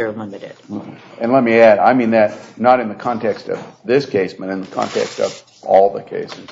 Limited. And let me add, I mean that not in the context of this case but in the context of all the cases.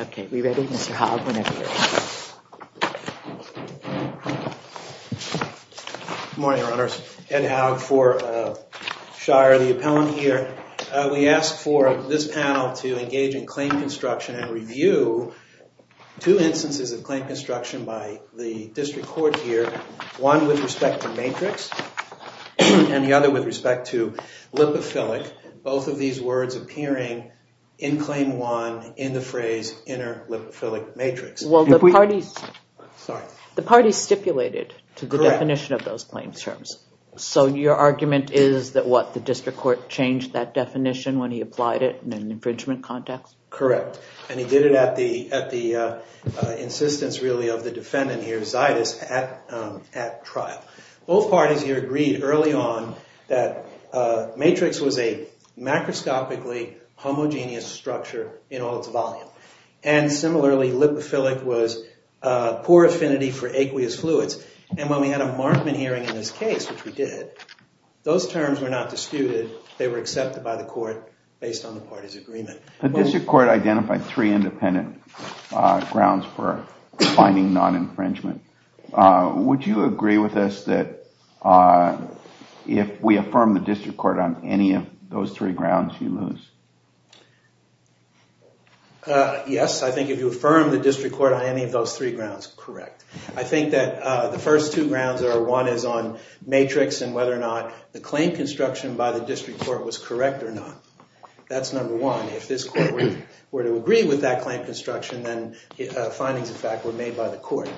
Okay, we ready? Mr. Haug, whenever you're ready. Good morning, Your Honors. Ed Haug for Shire. The appellant here. We ask for this panel to engage in claim construction and review two instances of claim construction by the district court here. One with respect to matrix and the other with respect to in claim one in the phrase inter-lipophilic matrix. Well, the parties sorry, the parties stipulated to the definition of those claims terms. So your argument is that what the district court changed that definition when he applied it in an infringement context? Correct. And he did it at the at the insistence really of the defendant here, Zytus, at trial. Both parties here agreed early on that matrix was a macroscopically homogeneous structure in all its volume. And similarly, lipophilic was poor affinity for aqueous fluids. And when we had a Markman hearing in this case, which we did, those terms were not disputed. They were accepted by the court based on the parties agreement. The district court identified three independent grounds for finding non-infringement. Would you agree with us that if we affirm the district court on any of those three grounds, you lose? Yes, I think if you affirm the district court on any of those three grounds, correct. I think that the first two grounds are one is on matrix and whether or not the claim construction by the district court was correct or not. That's number one. If this court were to agree with that claim construction, then findings of fact were made by the court.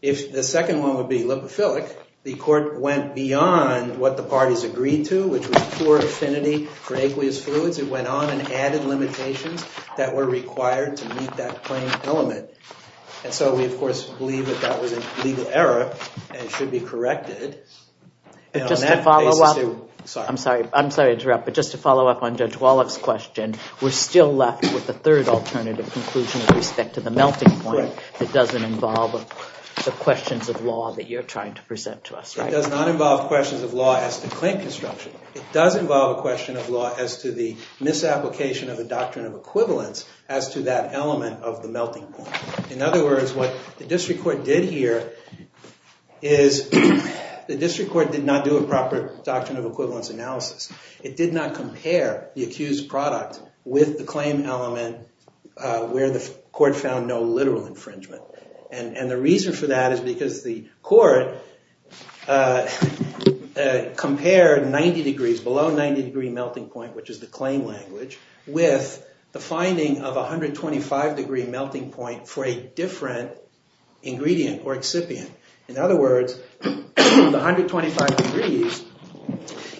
If the second one would be lipophilic, the court went beyond what the parties agreed to, which was poor affinity for aqueous fluids. It went on and added limitations that were required to meet that claim element. And so we, of course, believe that that was a legal error and should be corrected. And on that basis, too. I'm sorry to interrupt, but just to follow up on Judge Walloff's question, we're still left with a third alternative conclusion with respect to the melting point that doesn't involve the questions of law that you're trying to present to us, right? It does not involve questions of law as to claim construction. It does involve a question of law as to the misapplication of the doctrine of equivalence as to that element of the melting point. In other words, what the district court did here is the district court did not do a proper doctrine of equivalence analysis. It did not compare the accused product with the claim element where the court found no literal infringement. And the reason for that is because the court compared 90 degrees, below 90 degree melting point, which is the claim language, with the finding of a 125 degree melting point for a different ingredient or excipient. In other words, the 125 degrees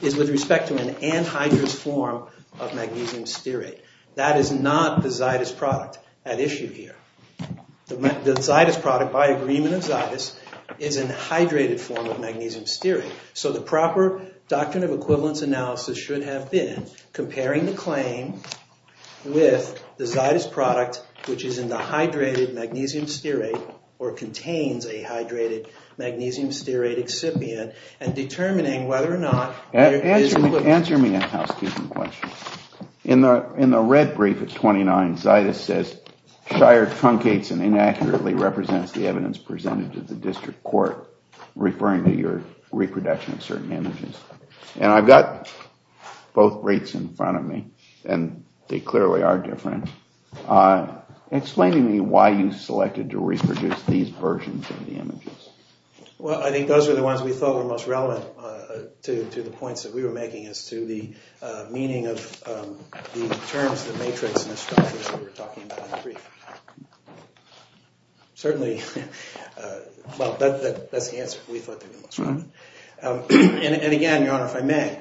is with the hydrous form of magnesium stearate. That is not the Zytus product at issue here. The Zytus product, by agreement of Zytus, is in the hydrated form of magnesium stearate. So the proper doctrine of equivalence analysis should have been comparing the claim with the Zytus product, which is in the hydrated magnesium stearate, or contains a hydrated magnesium stearate excipient, and In the red brief at 29, Zytus says, Scheier truncates and inaccurately represents the evidence presented to the district court, referring to your reproduction of certain images. And I've got both briefs in front of me, and they clearly are different. Explain to me why you selected to reproduce these versions of the images. Well, I think those are the ones we thought were most And again, Your Honor, if I may,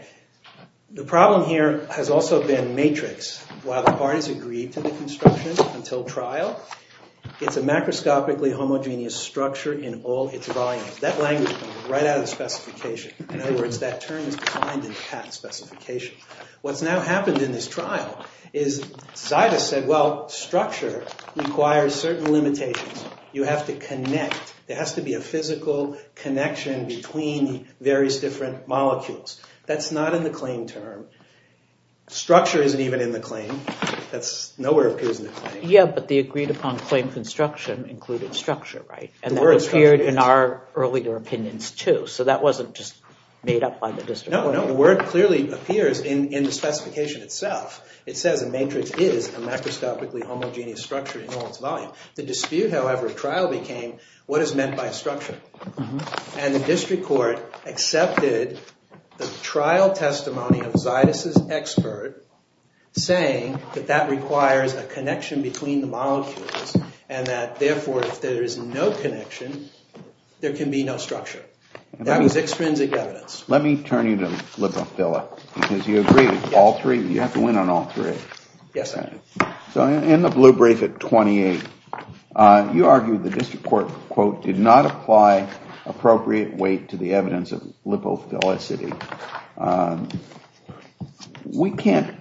the problem here has also been matrix. While the parties agreed to the construction until trial, it's a macroscopically homogeneous structure in all its volumes. That language comes right out of the What's now happened in this trial is Zytus said, well, structure requires certain limitations. You have to connect. There has to be a physical connection between various different molecules. That's not in the claim term. Structure isn't even in the claim. That nowhere appears in the claim. Yeah, but the agreed upon claim construction included structure, right? And that appeared in our earlier opinions, too. So that wasn't just made up by the district court. No, the word clearly appears in the specification itself. It says a matrix is a macroscopically homogeneous structure in all its volume. The dispute, however, trial became what is meant by structure. And the district court accepted the trial testimony of Zytus' expert saying that that requires a connection between the molecules and that, therefore, if there is no connection, there can be no because you agree with all three. You have to win on all three. Yes. So in the blue brief at 28, you argue the district court, quote, did not apply appropriate weight to the evidence of lipophilicity. We can't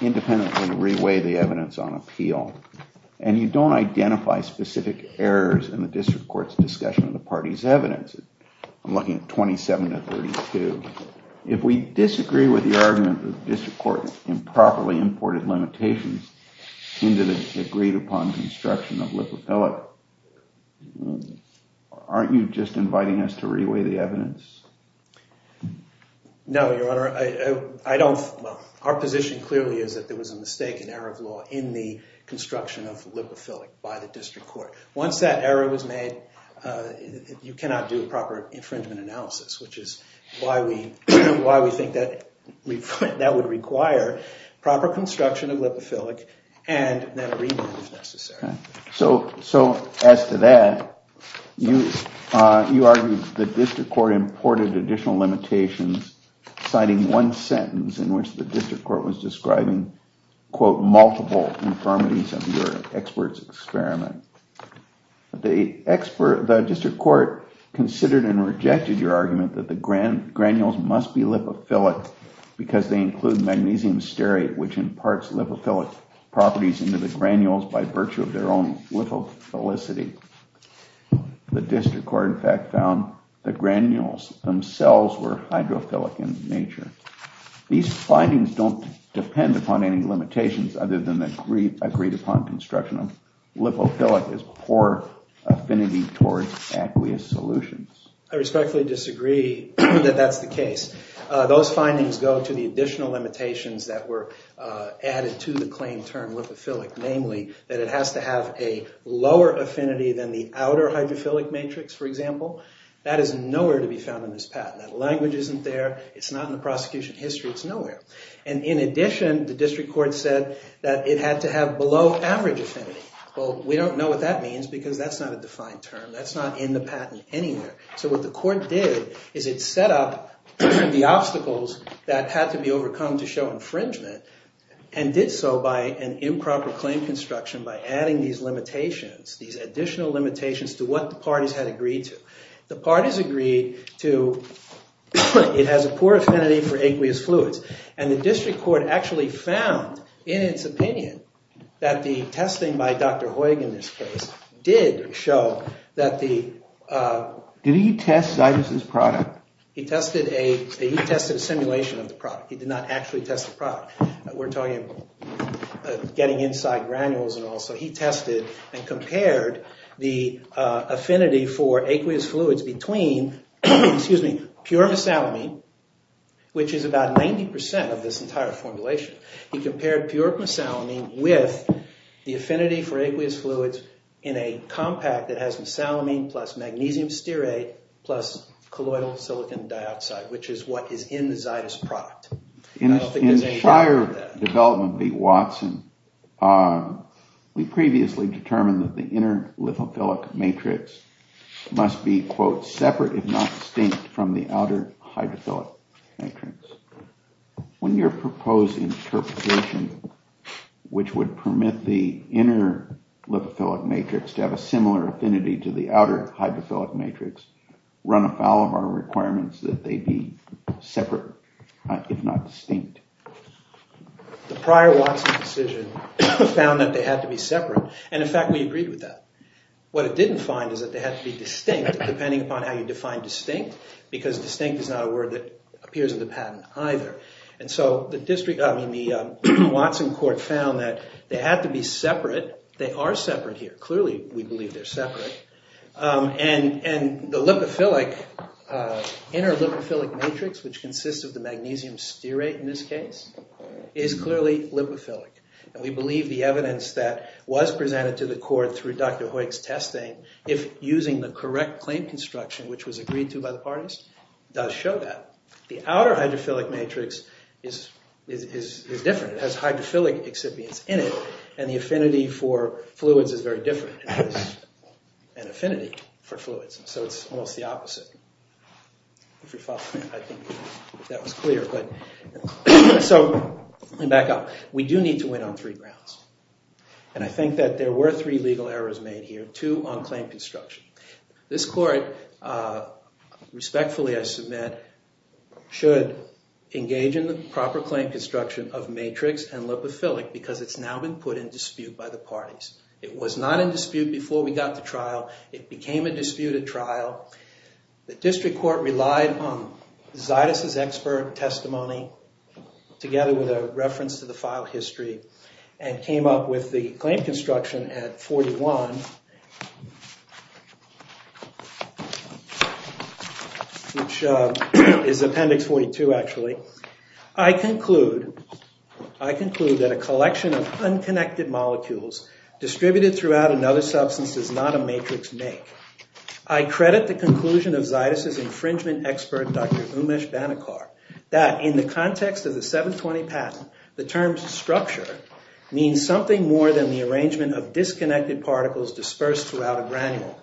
independently reweigh the evidence on appeal and you don't identify specific errors in the district court's discussion of the party's evidence. I'm looking at 27 to 32. If we disagree with the argument that the district court improperly imported limitations into the agreed upon construction of lipophilic, aren't you just inviting us to reweigh the evidence? No, Your Honor. I don't. Our position clearly is that there was a mistake in error of law in the construction of lipophilic. You cannot do a proper infringement analysis, which is why we think that would require proper construction of lipophilic and that a reweigh is necessary. So as to that, you argue the district court imported additional limitations citing one sentence in which the district court was describing, quote, multiple infirmities of your expert's experiment. The district court considered and rejected your argument that the granules must be lipophilic because they include magnesium stearate, which imparts lipophilic properties into the granules by virtue of their own lipophilicity. The district court, in fact, found the granules themselves were hydrophilic in nature. These findings don't depend upon any limitations other than the agreed upon construction of lipophilic as poor affinity towards aqueous solutions. I respectfully disagree that that's the case. Those findings go to the additional limitations that were added to the claim term lipophilic, namely that it has to have a lower affinity than the outer hydrophilic matrix, for example. That is nowhere to be found in this patent. That language isn't there. It's not in the prosecution history. It's nowhere. And in addition, the district court said that it had to have below average affinity. Well, we don't know what that means because that's not a defined term. That's not in the patent anywhere. So what the court did is it set up the obstacles that had to be overcome to show infringement and did so by an improper claim construction by adding these limitations, these additional limitations to what the parties had agreed to. The parties agreed to it has a poor affinity for aqueous fluids. And the district court actually found, in its opinion, that the testing by Dr. Hoyg in this case did show that the... Did he test Zytus' product? He tested a simulation of the product. He did not actually test the product. We're talking about getting inside granules and all. So he tested and compared the affinity for aqueous fluids between pure mesalamine, which is about 90% of this entire formulation. He compared pure mesalamine with the affinity for aqueous fluids in a compact that has mesalamine plus magnesium stearate plus colloidal silicon dioxide, which is what is in the Zytus product. I don't think there's any problem with that. In prior development, V. Watson, we previously determined that the inner lithophilic matrix must be, quote, separate if not distinct from the proposed interpretation, which would permit the inner lithophilic matrix to have a similar affinity to the outer hydrophilic matrix, run afoul of our requirements that they be separate, if not distinct. The prior Watson decision found that they had to be separate. And in fact, we agreed with that. What it didn't find is that they had to be distinct, depending upon how you define distinct. Because distinct is not a word that appears in the patent either. And so the Watson court found that they had to be separate. They are separate here. Clearly, we believe they're separate. And the inner lithophilic matrix, which consists of the magnesium stearate in this case, is clearly lithophilic. And we believe the evidence that was presented to the court through Dr. Hoek's testing, if using the correct claim construction, which was agreed to by the parties, does show that. The outer hydrophilic matrix is different. It has hydrophilic excipients in it. And the affinity for fluids is very different. It has an affinity for fluids. And so it's almost the opposite. If you follow me, I think that was clear. So, and back up. We do need to win on three fundamental errors made here. Two on claim construction. This court, respectfully, I submit, should engage in the proper claim construction of matrix and lithophilic because it's now been put in dispute by the parties. It was not in dispute before we got to trial. It became a disputed trial. The district court relied on Zaitis' expert testimony, together with a patent on, which is Appendix 42, actually. I conclude that a collection of unconnected molecules distributed throughout another substance is not a matrix make. I credit the conclusion of Zaitis' infringement expert, Dr. Umesh Banekar, that in the context of the 720 patent, the term structure means something more than the arrangement of particles dispersed throughout a granule.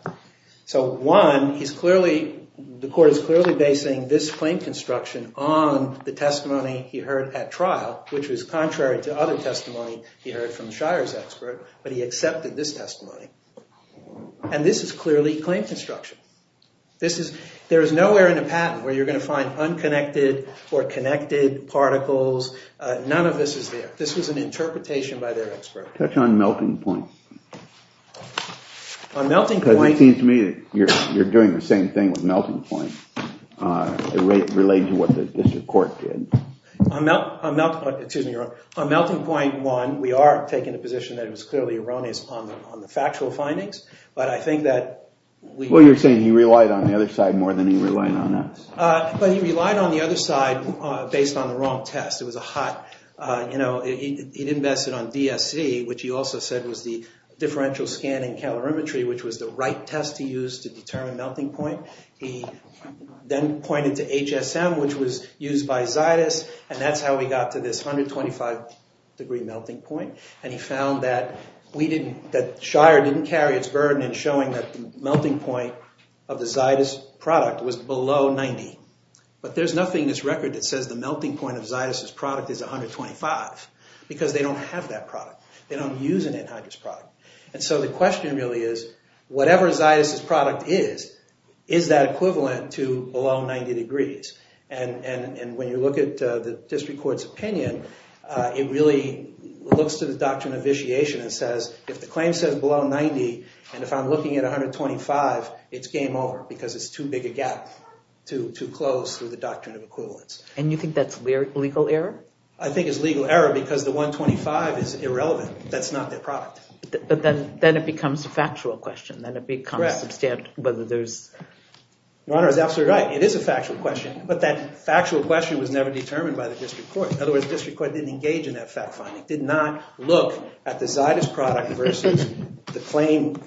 So one, the court is clearly basing this claim construction on the testimony he heard at trial, which was contrary to other testimony he heard from Shire's expert, but he accepted this testimony. And this is clearly claim construction. There is nowhere in a patent where you're going to find unconnected or connected particles. None of this is there. It seems to me that you're doing the same thing with Melting Point. It relates to what the district court did. On Melting Point 1, we are taking a position that it was clearly erroneous on the factual findings, but I think that... Well, you're saying he relied on the other side more than he relied on us. But he relied on the other side based on the wrong test. It was a hot... He invested on DSC, which he also said was the differential scanning calorimetry, which was the right test to use to determine Melting Point. He then pointed to HSM, which was used by Zytus, and that's how we got to this 125 degree melting point. And he found that Shire didn't carry its burden in showing that the melting point of the Zytus product was below 90. But there's nothing in this record that says the melting point of Zytus' product is 125 because they don't have that product. They don't use an anhydrous product. And so the question really is, whatever Zytus' product is, is that equivalent to below 90 degrees? And when you look at the district court's opinion, it really looks to the doctrine of vitiation and says, if the claim says below 90 and if I'm looking at 125, it's game over because it's too big a gap, too close to the doctrine of equivalence. And you think that's legal error? I think it's legal error because the 125 is irrelevant. That's not their product. Then it becomes a factual question. Your Honor is absolutely right. It is a factual question, but that factual question was never determined by the district court. In other words, district court didn't engage in that fact finding, did not look at the Zytus product versus the claim.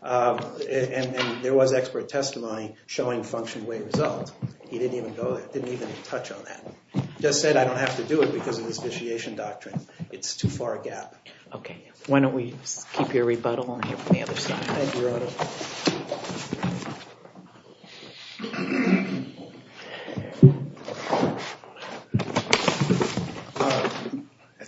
And there was expert testimony showing function way result. He didn't even touch on that. Just said I don't have to do it because of this vitiation doctrine. It's too far a gap. Why don't we keep your rebuttal and hear from the other side. I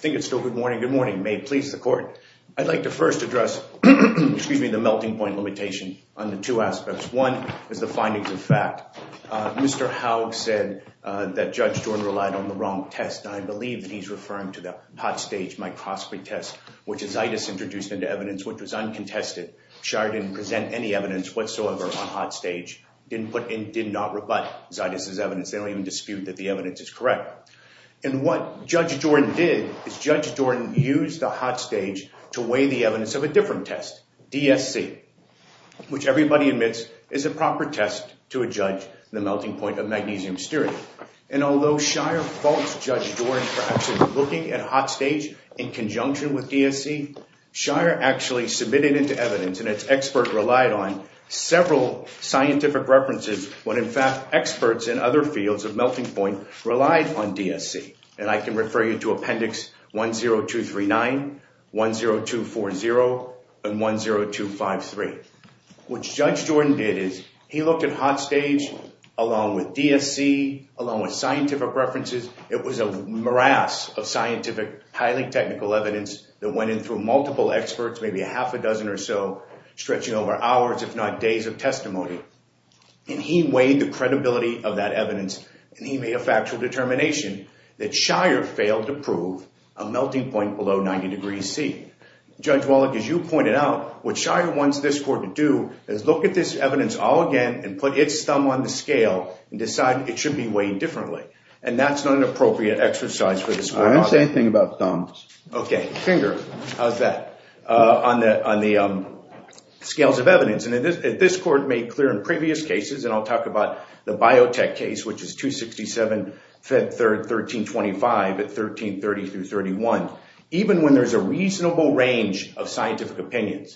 think it's still good morning. Good morning. May it please the court. I'd like to first address the melting point limitation on the two aspects. One is the findings of fact. Mr. Howe said that Judge Jordan relied on the wrong test. I believe that he's referring to the hot stage microscopy test, which is Zytus introduced into evidence, which was uncontested. Shire didn't present any evidence whatsoever on hot stage. Didn't put in, did not rebut Zytus' evidence. They don't even dispute that the evidence is correct. And what Judge Jordan did is Judge Jordan used the hot stage to weigh the evidence of a different test, DSC, which everybody admits is a proper test to a judge, the melting point of magnesium stearate. And although Shire faults Judge Jordan for actually looking at hot stage in conjunction with DSC, Shire actually submitted into evidence and its expert relied on several scientific references when in fact experts in other fields of melting point relied on DSC. And I can refer you to Appendix 10239, 10240, and 10253. What Judge Jordan did is he looked at hot stage along with DSC, along with scientific references. It was a morass of scientific, highly technical evidence that went in through multiple experts, maybe a half a dozen or so, stretching over hours, if not days of testimony. And he weighed the credibility of that evidence and he made a factual determination that Shire failed to prove a melting point below 90 degrees C. Judge Wallach, as you pointed out, what Shire wants this court to do is look at this evidence all again and put its thumb on the scale and decide it should be weighed differently. And that's not an appropriate exercise for this court. I didn't say anything about thumbs. Okay. Fingers. How's that? On the scales of evidence. And this court made clear in previous cases, and I'll talk about the biotech case, which is 267 Fed Third 1325 at 1330 through 31. Even when there's a reasonable range of differences on scientific opinion,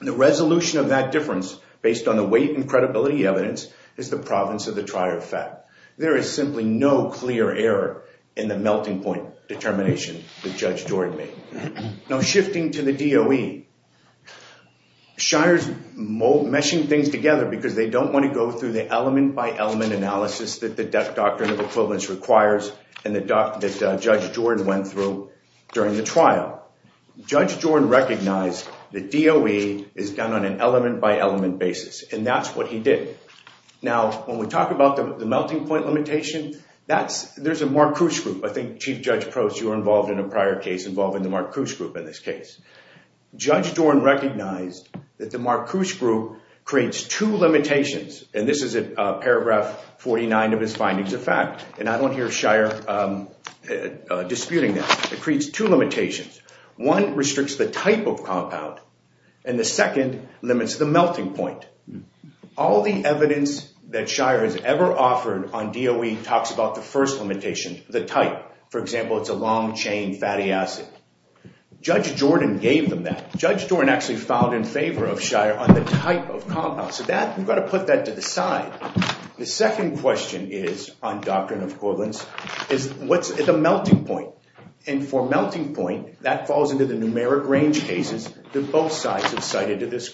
the resolution of that difference based on the weight and credibility evidence is the province of the trier effect. There is simply no clear error in the melting point determination that Judge Jordan made. Shires mold meshing things together because they don't want to go through the element by element analysis that the death doctrine of equivalence requires. And the doc that Judge Jordan went through during the trial, Judge Jordan recognized the DOE is done on an element by element basis. And that's what he did. Now, when we talk about the melting point limitation, that's there's a more cruise group. I think Chief Judge Proce, you were involved in a prior case involving the mark cruise group. In this case, Judge Jordan recognized that the mark cruise group creates two limitations. And this is a paragraph 49 of his findings of fact. And I don't hear Shire disputing that creates two limitations. One restricts the type of compound and the second limits the melting point. All the evidence that Shire has ever offered on DOE talks about the first limitation, the type. For example, it's a long chain fatty acid. Judge Jordan gave them that. Judge Jordan actually filed in favor of Shire on the type of compound. So that you've got to put that to the side. The second question is on doctrine of equivalence is what's the melting point. And for melting point, that falls into the numeric range cases that both sides have cited to this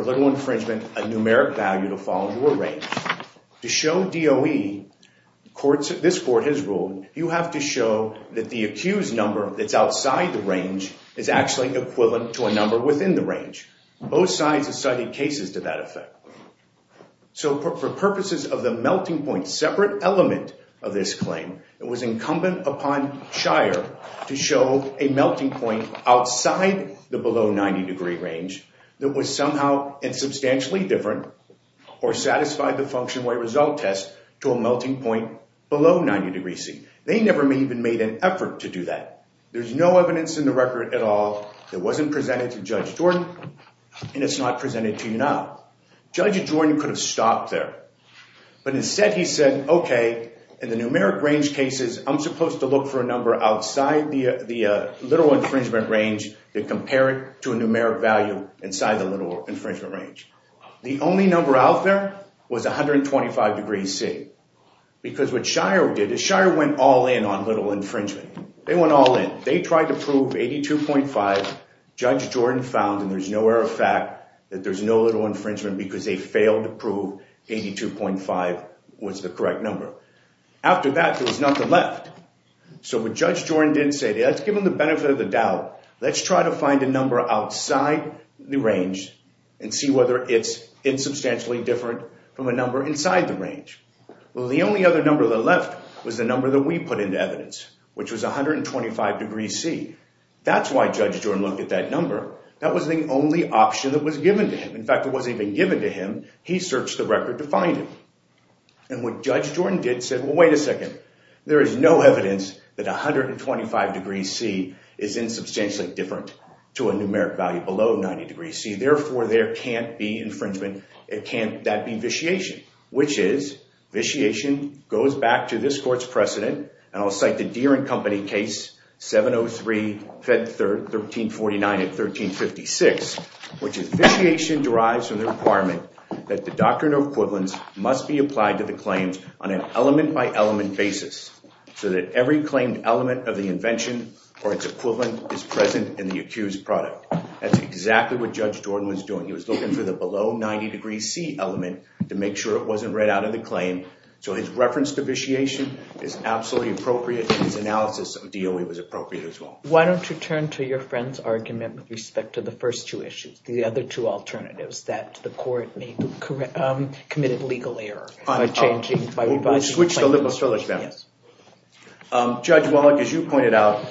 infringement, a numeric value to fall into a range. To show DOE, this court has ruled, you have to show that the accused number that's outside the range is actually equivalent to a number within the range. Both sides have cited cases to that effect. So for purposes of the melting point separate element of this claim, it was incumbent upon Shire to show a melting point outside the below 90 degree range that was somehow substantially different or satisfied the function way result test to a melting point below 90 degree C. They never even made an effort to do that. There's no evidence in the record at all that wasn't presented to Judge Jordan and it's not presented to you now. Judge Jordan could have stopped there. But instead he said, okay, in the numeric range cases, I'm supposed to look for a number outside the little infringement range to compare it to a numeric value inside the little infringement range. The only number out there was 125 degree C. Because what Shire did is Shire went all in on little infringement. They went all in. They tried to prove 82.5. Judge Jordan found and there's no error of fact that there's no little infringement. After that, there was nothing left. So what Judge Jordan didn't say, let's give him the benefit of the doubt. Let's try to find a number outside the range and see whether it's insubstantially different from a number inside the range. Well, the only other number that left was the number that we put into evidence, which was 125 degree C. That's why Judge Jordan looked at that number. That was the only option that was given to him. In fact, it wasn't even given to him. He searched the record to find it. And what Judge Jordan did said, well, wait a second. There is no evidence that 125 degree C is insubstantially different to a numeric value below 90 degree C. Therefore, there can't be infringement. It can't that be vitiation, which is vitiation goes back to this court's precedent. And I'll cite the Deere and Company case 703 Fed 1349 and 1356, which is vitiation derives from the requirement that the doctrine of equivalence must be applied to the claims on an element by element basis so that every claimed element of the invention or its equivalent is present in the accused product. That's exactly what Judge Jordan was doing. He was looking for the below 90 degree C element to make sure it wasn't read out of the claim. So his reference to your friend's argument with respect to the first two issues, the other two alternatives, that the court may have committed legal error by changing, by revising the claim. We'll switch to lipophilic then. Judge Wallach, as you pointed out,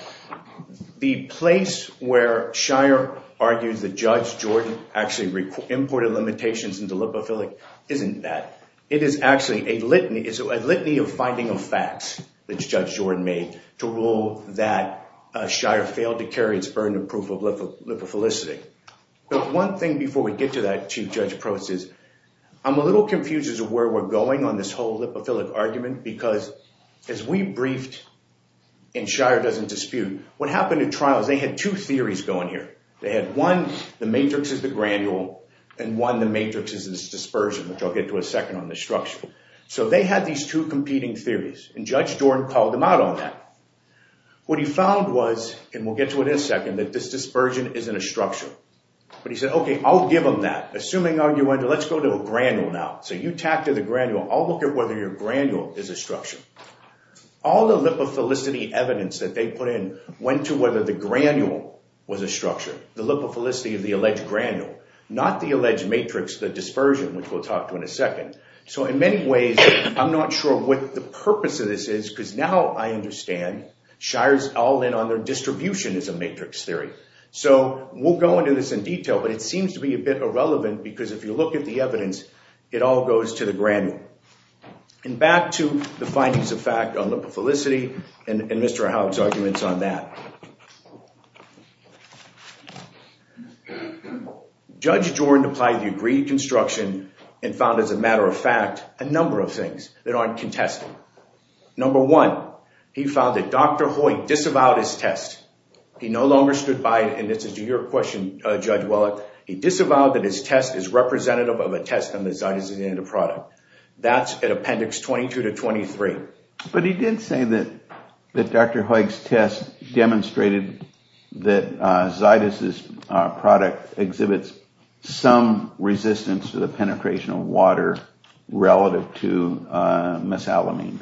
the place where Shire argues that Judge Jordan actually imported limitations into lipophilic isn't that. It is actually a litany of finding of facts that Judge Jordan made to rule that Shire failed to carry its burden of proof of lipophilicity. But one thing before we get to that chief judge process, I'm a little confused as to where we're going on this whole lipophilic argument because as we briefed, and Shire doesn't dispute, what happened in trials, they had two theories going here. They had one, the matrix is the granule, and one the matrix is dispersion, which I'll get to in a second on the structure. So they had these two competing theories, and Judge Jordan called them out on that. What he found was, and we'll get to it in a second, that this dispersion isn't a structure. But he said, okay, I'll give them that. Assuming argument, let's go to a granule now. So you tack to the granule, I'll look at whether your granule is a structure. All the lipophilicity evidence that they put in went to whether the granule was a structure. The lipophilicity of the alleged granule. Not the alleged matrix, the dispersion, which we'll talk to in a second. So in many ways, I'm not sure what the purpose of this is, because now I understand, Shire's all in on their distributionism matrix theory. So we'll go into this in detail, but it seems to be a bit irrelevant because if you look at the evidence, it all goes to the granule. And back to the findings of fact on lipophilicity and Mr. Howe's arguments on that. Judge Jordan applied the agreed construction and found, as a matter of fact, a number of things that aren't contested. Number one, he found that Dr. Hoyt disavowed his test. He no longer stood by it, and this is to your question, Judge Wellick. He disavowed that his test is representative of a test on the Zytosin in the product. That's at appendix 22 to 23. But he did say that Dr. Hoyt's test demonstrated that Zytosin's product exhibits some resistance to the penetration of water relative to mesalamine.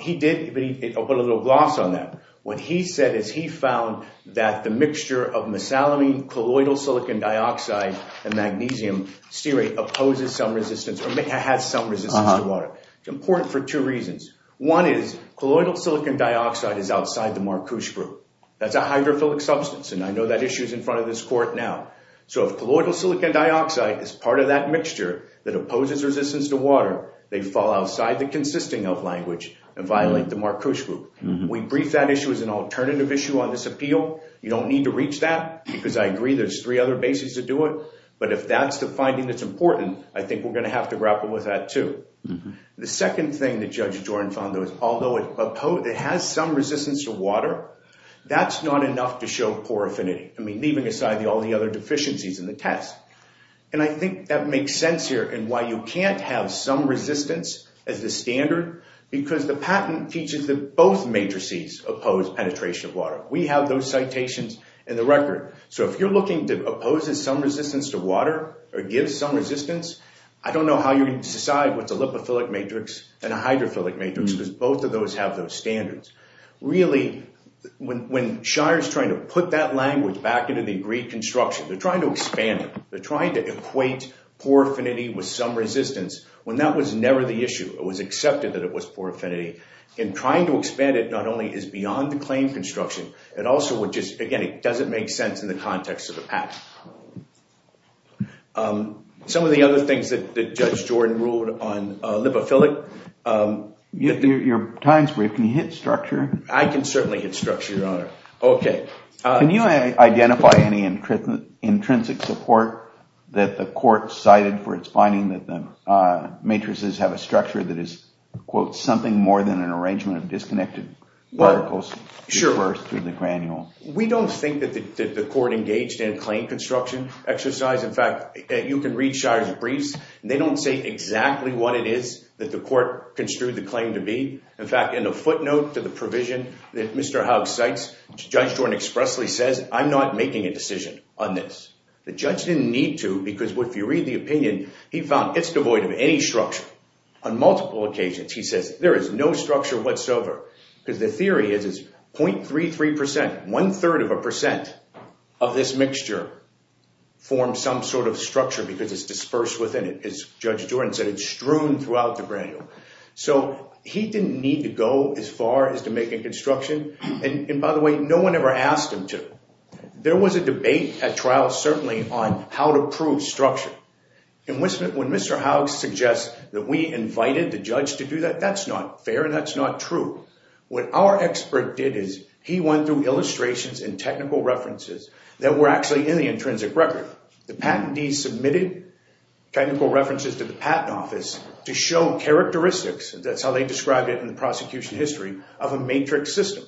He did, but he put a little gloss on that. What he said is he found that the mixture of mesalamine, colloidal silicon dioxide, and magnesium stearate opposes some resistance or has some resistance to water. It's important for two reasons. One is colloidal silicon dioxide is outside the Marcouche group. That's a hydrophilic substance, and I know that issue's in front of this court now. So if colloidal silicon dioxide is part of that mixture that opposes resistance to water, they fall outside the consisting of language and violate the Marcouche group. We briefed that issue as an alternative issue on this appeal. You don't need to reach that because I agree there's three other bases to do it. But if that's the finding that's important, I think we're going to have to grapple with that too. The second thing that Judge Jordan found though is although it has some resistance to water, that's not enough to show poor affinity. I mean, leaving aside all the other deficiencies in the test. And I think that the patent teaches that both matrices oppose penetration of water. We have those citations in the record. So if you're looking to oppose some resistance to water or give some resistance, I don't know how you're going to decide what's a lipophilic matrix and a hydrophilic matrix because both of those have those standards. Really, when Shire's trying to put that language back into the agreed construction, they're trying to expand it. They're trying to equate poor affinity with some resistance when that was never the issue. It was accepted that it was poor affinity. And trying to expand it not only is beyond the claim construction, it also would just, again, it doesn't make sense in the context of the patent. Some of the other things that Judge Jordan ruled on lipophilic. Your time is brief. Can you hit structure? I can certainly hit structure, Your Honor. Can you identify any intrinsic support that the court cited for its finding that the matrices have a structure that is something more than an arrangement of disconnected particles. We don't think that the court engaged in claim construction exercise. In fact, you can read Shire's briefs. They don't say exactly what it is that the court construed the claim to be. In fact, in the footnote to the provision that Mr. Haug cites, Judge Jordan expressly says, I'm not making a decision on this. The judge didn't need to because if you read the opinion, he found it's devoid of any structure. On multiple occasions he says there is no structure whatsoever because the theory is 0.33%, one third of a percent of this mixture forms some sort of structure because it's dispersed within it, as Judge Jordan said, it's strewn throughout the granule. So he didn't need to go as far as to make a construction. And by the way, no one ever asked him to. There was a debate at trial certainly on how to prove structure. When Mr. Haug suggests that we invited the judge to do that, that's not fair and that's not true. What our expert did is he went through and he submitted technical references to the patent office to show characteristics, that's how they described it in the prosecution history, of a matrix system.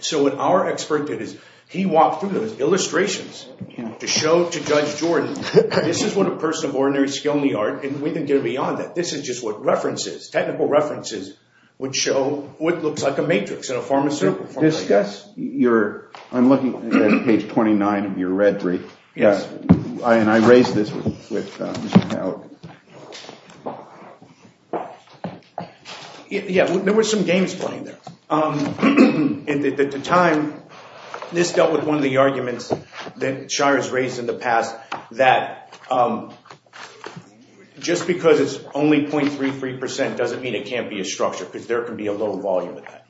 So what our expert did is he walked through those illustrations to show to Judge Jordan this is what a person of ordinary skill in the art, and we can get beyond that, this is just what references, technical references, would show what looks like a matrix in a pharmaceutical form. I'm looking at page 29 of your red brief, and I raised this with Mr. Haug. Yeah, there were some games playing there. At the time, this dealt with one of the arguments that Shires raised in the past that just because it's only 0.33% doesn't mean it can't be a structure because there can be a low volume of that.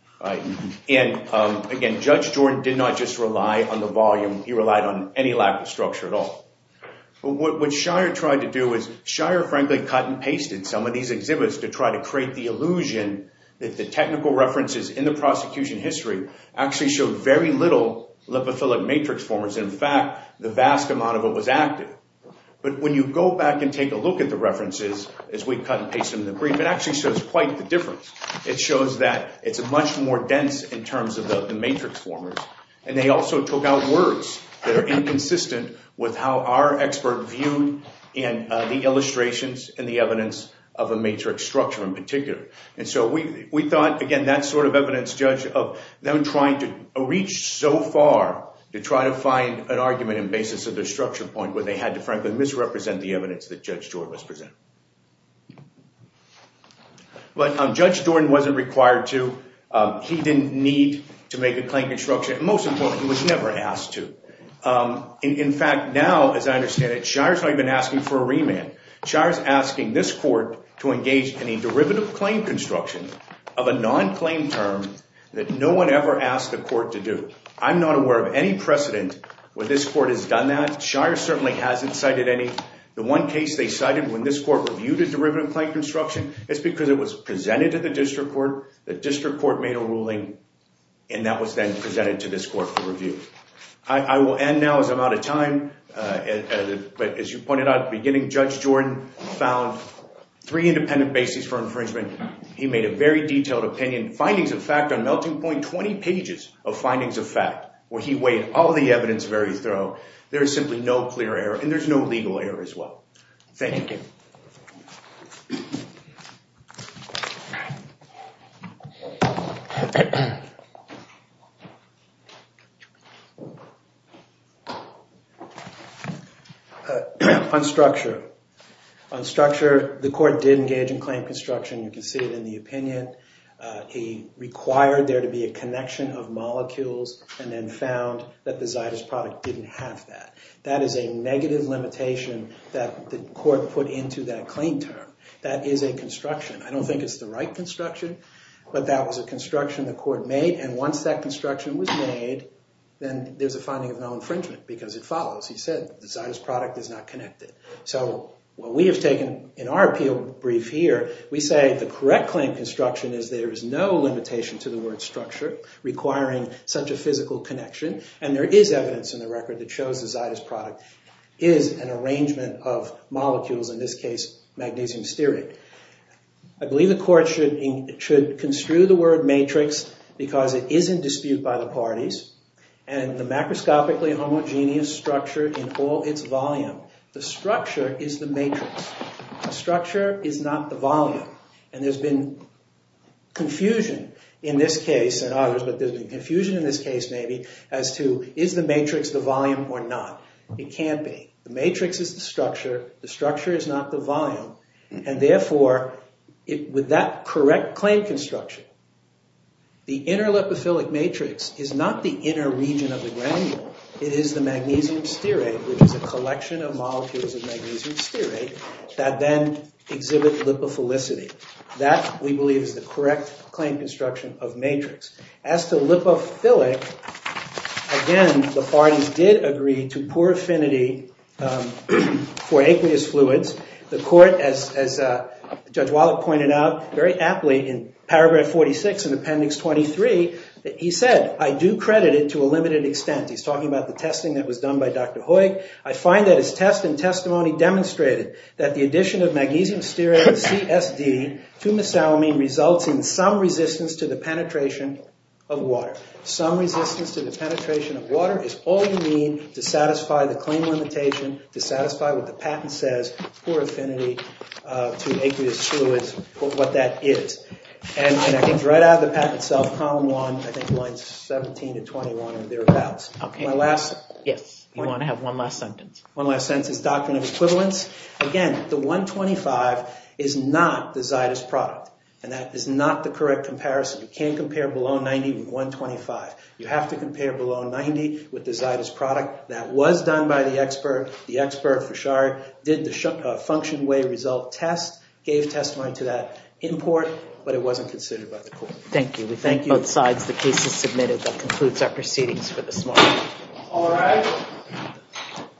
Again, Judge Jordan did not just rely on the volume, he relied on any lack of structure at all. What Shires tried to do was, Shires frankly cut and pasted some of these exhibits to try to create the illusion that the technical references in the prosecution history actually showed very little lipophilic matrix forms. In fact, the vast amount of it was active. But when you go back and take a look at the references as we cut and pasted them in the brief, it actually shows quite the difference. It shows that it's much more dense in terms of the matrix formers, and they also took out words that are inconsistent with how our expert viewed the illustrations and the evidence of a matrix structure in particular. And so we thought, again, that sort of evidence, Judge, of them trying to reach so far to try to find an argument in basis of their structure point where they had to frankly misrepresent the evidence that Judge Jordan was presenting. But Judge Jordan wasn't required to. He didn't need to make a claim construction. Most importantly, he was never asked to. In fact, now, as I understand it, Shires not even asking for a remand. Shires asking this court to engage in a derivative claim construction of a non-claim term that no one ever asked the court to do. I'm not aware of any precedent where this court has done that. Shires certainly hasn't cited any. The one case they cited when this court reviewed a derivative claim construction, it's because it was presented to the district court, the district court made a ruling, and that was then presented to this court for review. I will end now as I'm out of time. But as you pointed out at the beginning, Judge Jordan found three independent bases for infringement. He made a very detailed opinion, findings of fact on melting point, 20 pages of findings of fact where he weighed all the evidence very thoroughly. There is simply no clear error, and there's no legal error as well. Thank you. Thank you. On structure, the court did engage in claim construction. You can see it in the opinion. He required there to be a connection of molecules and then found that the Zytus product didn't have that. That is a negative limitation that the court put into that claim term. That is a construction. I don't think it's the right construction, but that was a construction the court made, and once that construction was made, then there's a finding of no infringement because it follows. He said the Zytus product is not connected. So what we have taken in our appeal brief here, we say the correct claim construction is there is no limitation to the word structure requiring such a physical connection, and there is evidence in the record that shows the Zytus product is an arrangement of molecules, in this case magnesium stearate. I believe the court should construe the word matrix because it is in dispute by the parties, and the macroscopically homogeneous structure in all its volume. The structure is the matrix. The structure is not the volume, and there's been confusion in this case, and others, but there's been confusion in this case maybe as to is the matrix the volume or not? It can't be. The matrix is the structure. The structure is not the volume, and therefore, with that correct claim construction, the inner lipophilic matrix is not the inner region of the granule. It is the magnesium stearate, which is a collection of molecules of magnesium stearate that then exhibit lipophilicity. That, we believe, is the correct claim construction of matrix. As to lipophilic, again, the parties did agree to poor affinity for aqueous fluids. The court, as Judge Wallach pointed out very aptly in paragraph 46 in appendix 23, he said, I do credit it to a limited extent. He's talking about the testing that was done by Dr. Hoig. I find that his test and testimony demonstrated that the addition of magnesium stearate and CSD to misalumine results in some resistance to the penetration of water. Some resistance to the penetration of water is all you need to satisfy the claim limitation, to satisfy what the patent says, poor affinity to aqueous fluids, what that is. And that comes right out of the patent itself, in column one, I think lines 17 to 21 or thereabouts. One last sentence is doctrine of equivalence. Again, the 125 is not the Zytus product, and that is not the correct comparison. You can't compare below 90 with 125. You have to compare below 90 with the Zytus product. That was done by the expert. The expert, Foshari, did the function way result test, gave testimony to that import, but it wasn't considered by the court. Thank you. We thank both sides. The case is submitted. That concludes our proceedings for this morning.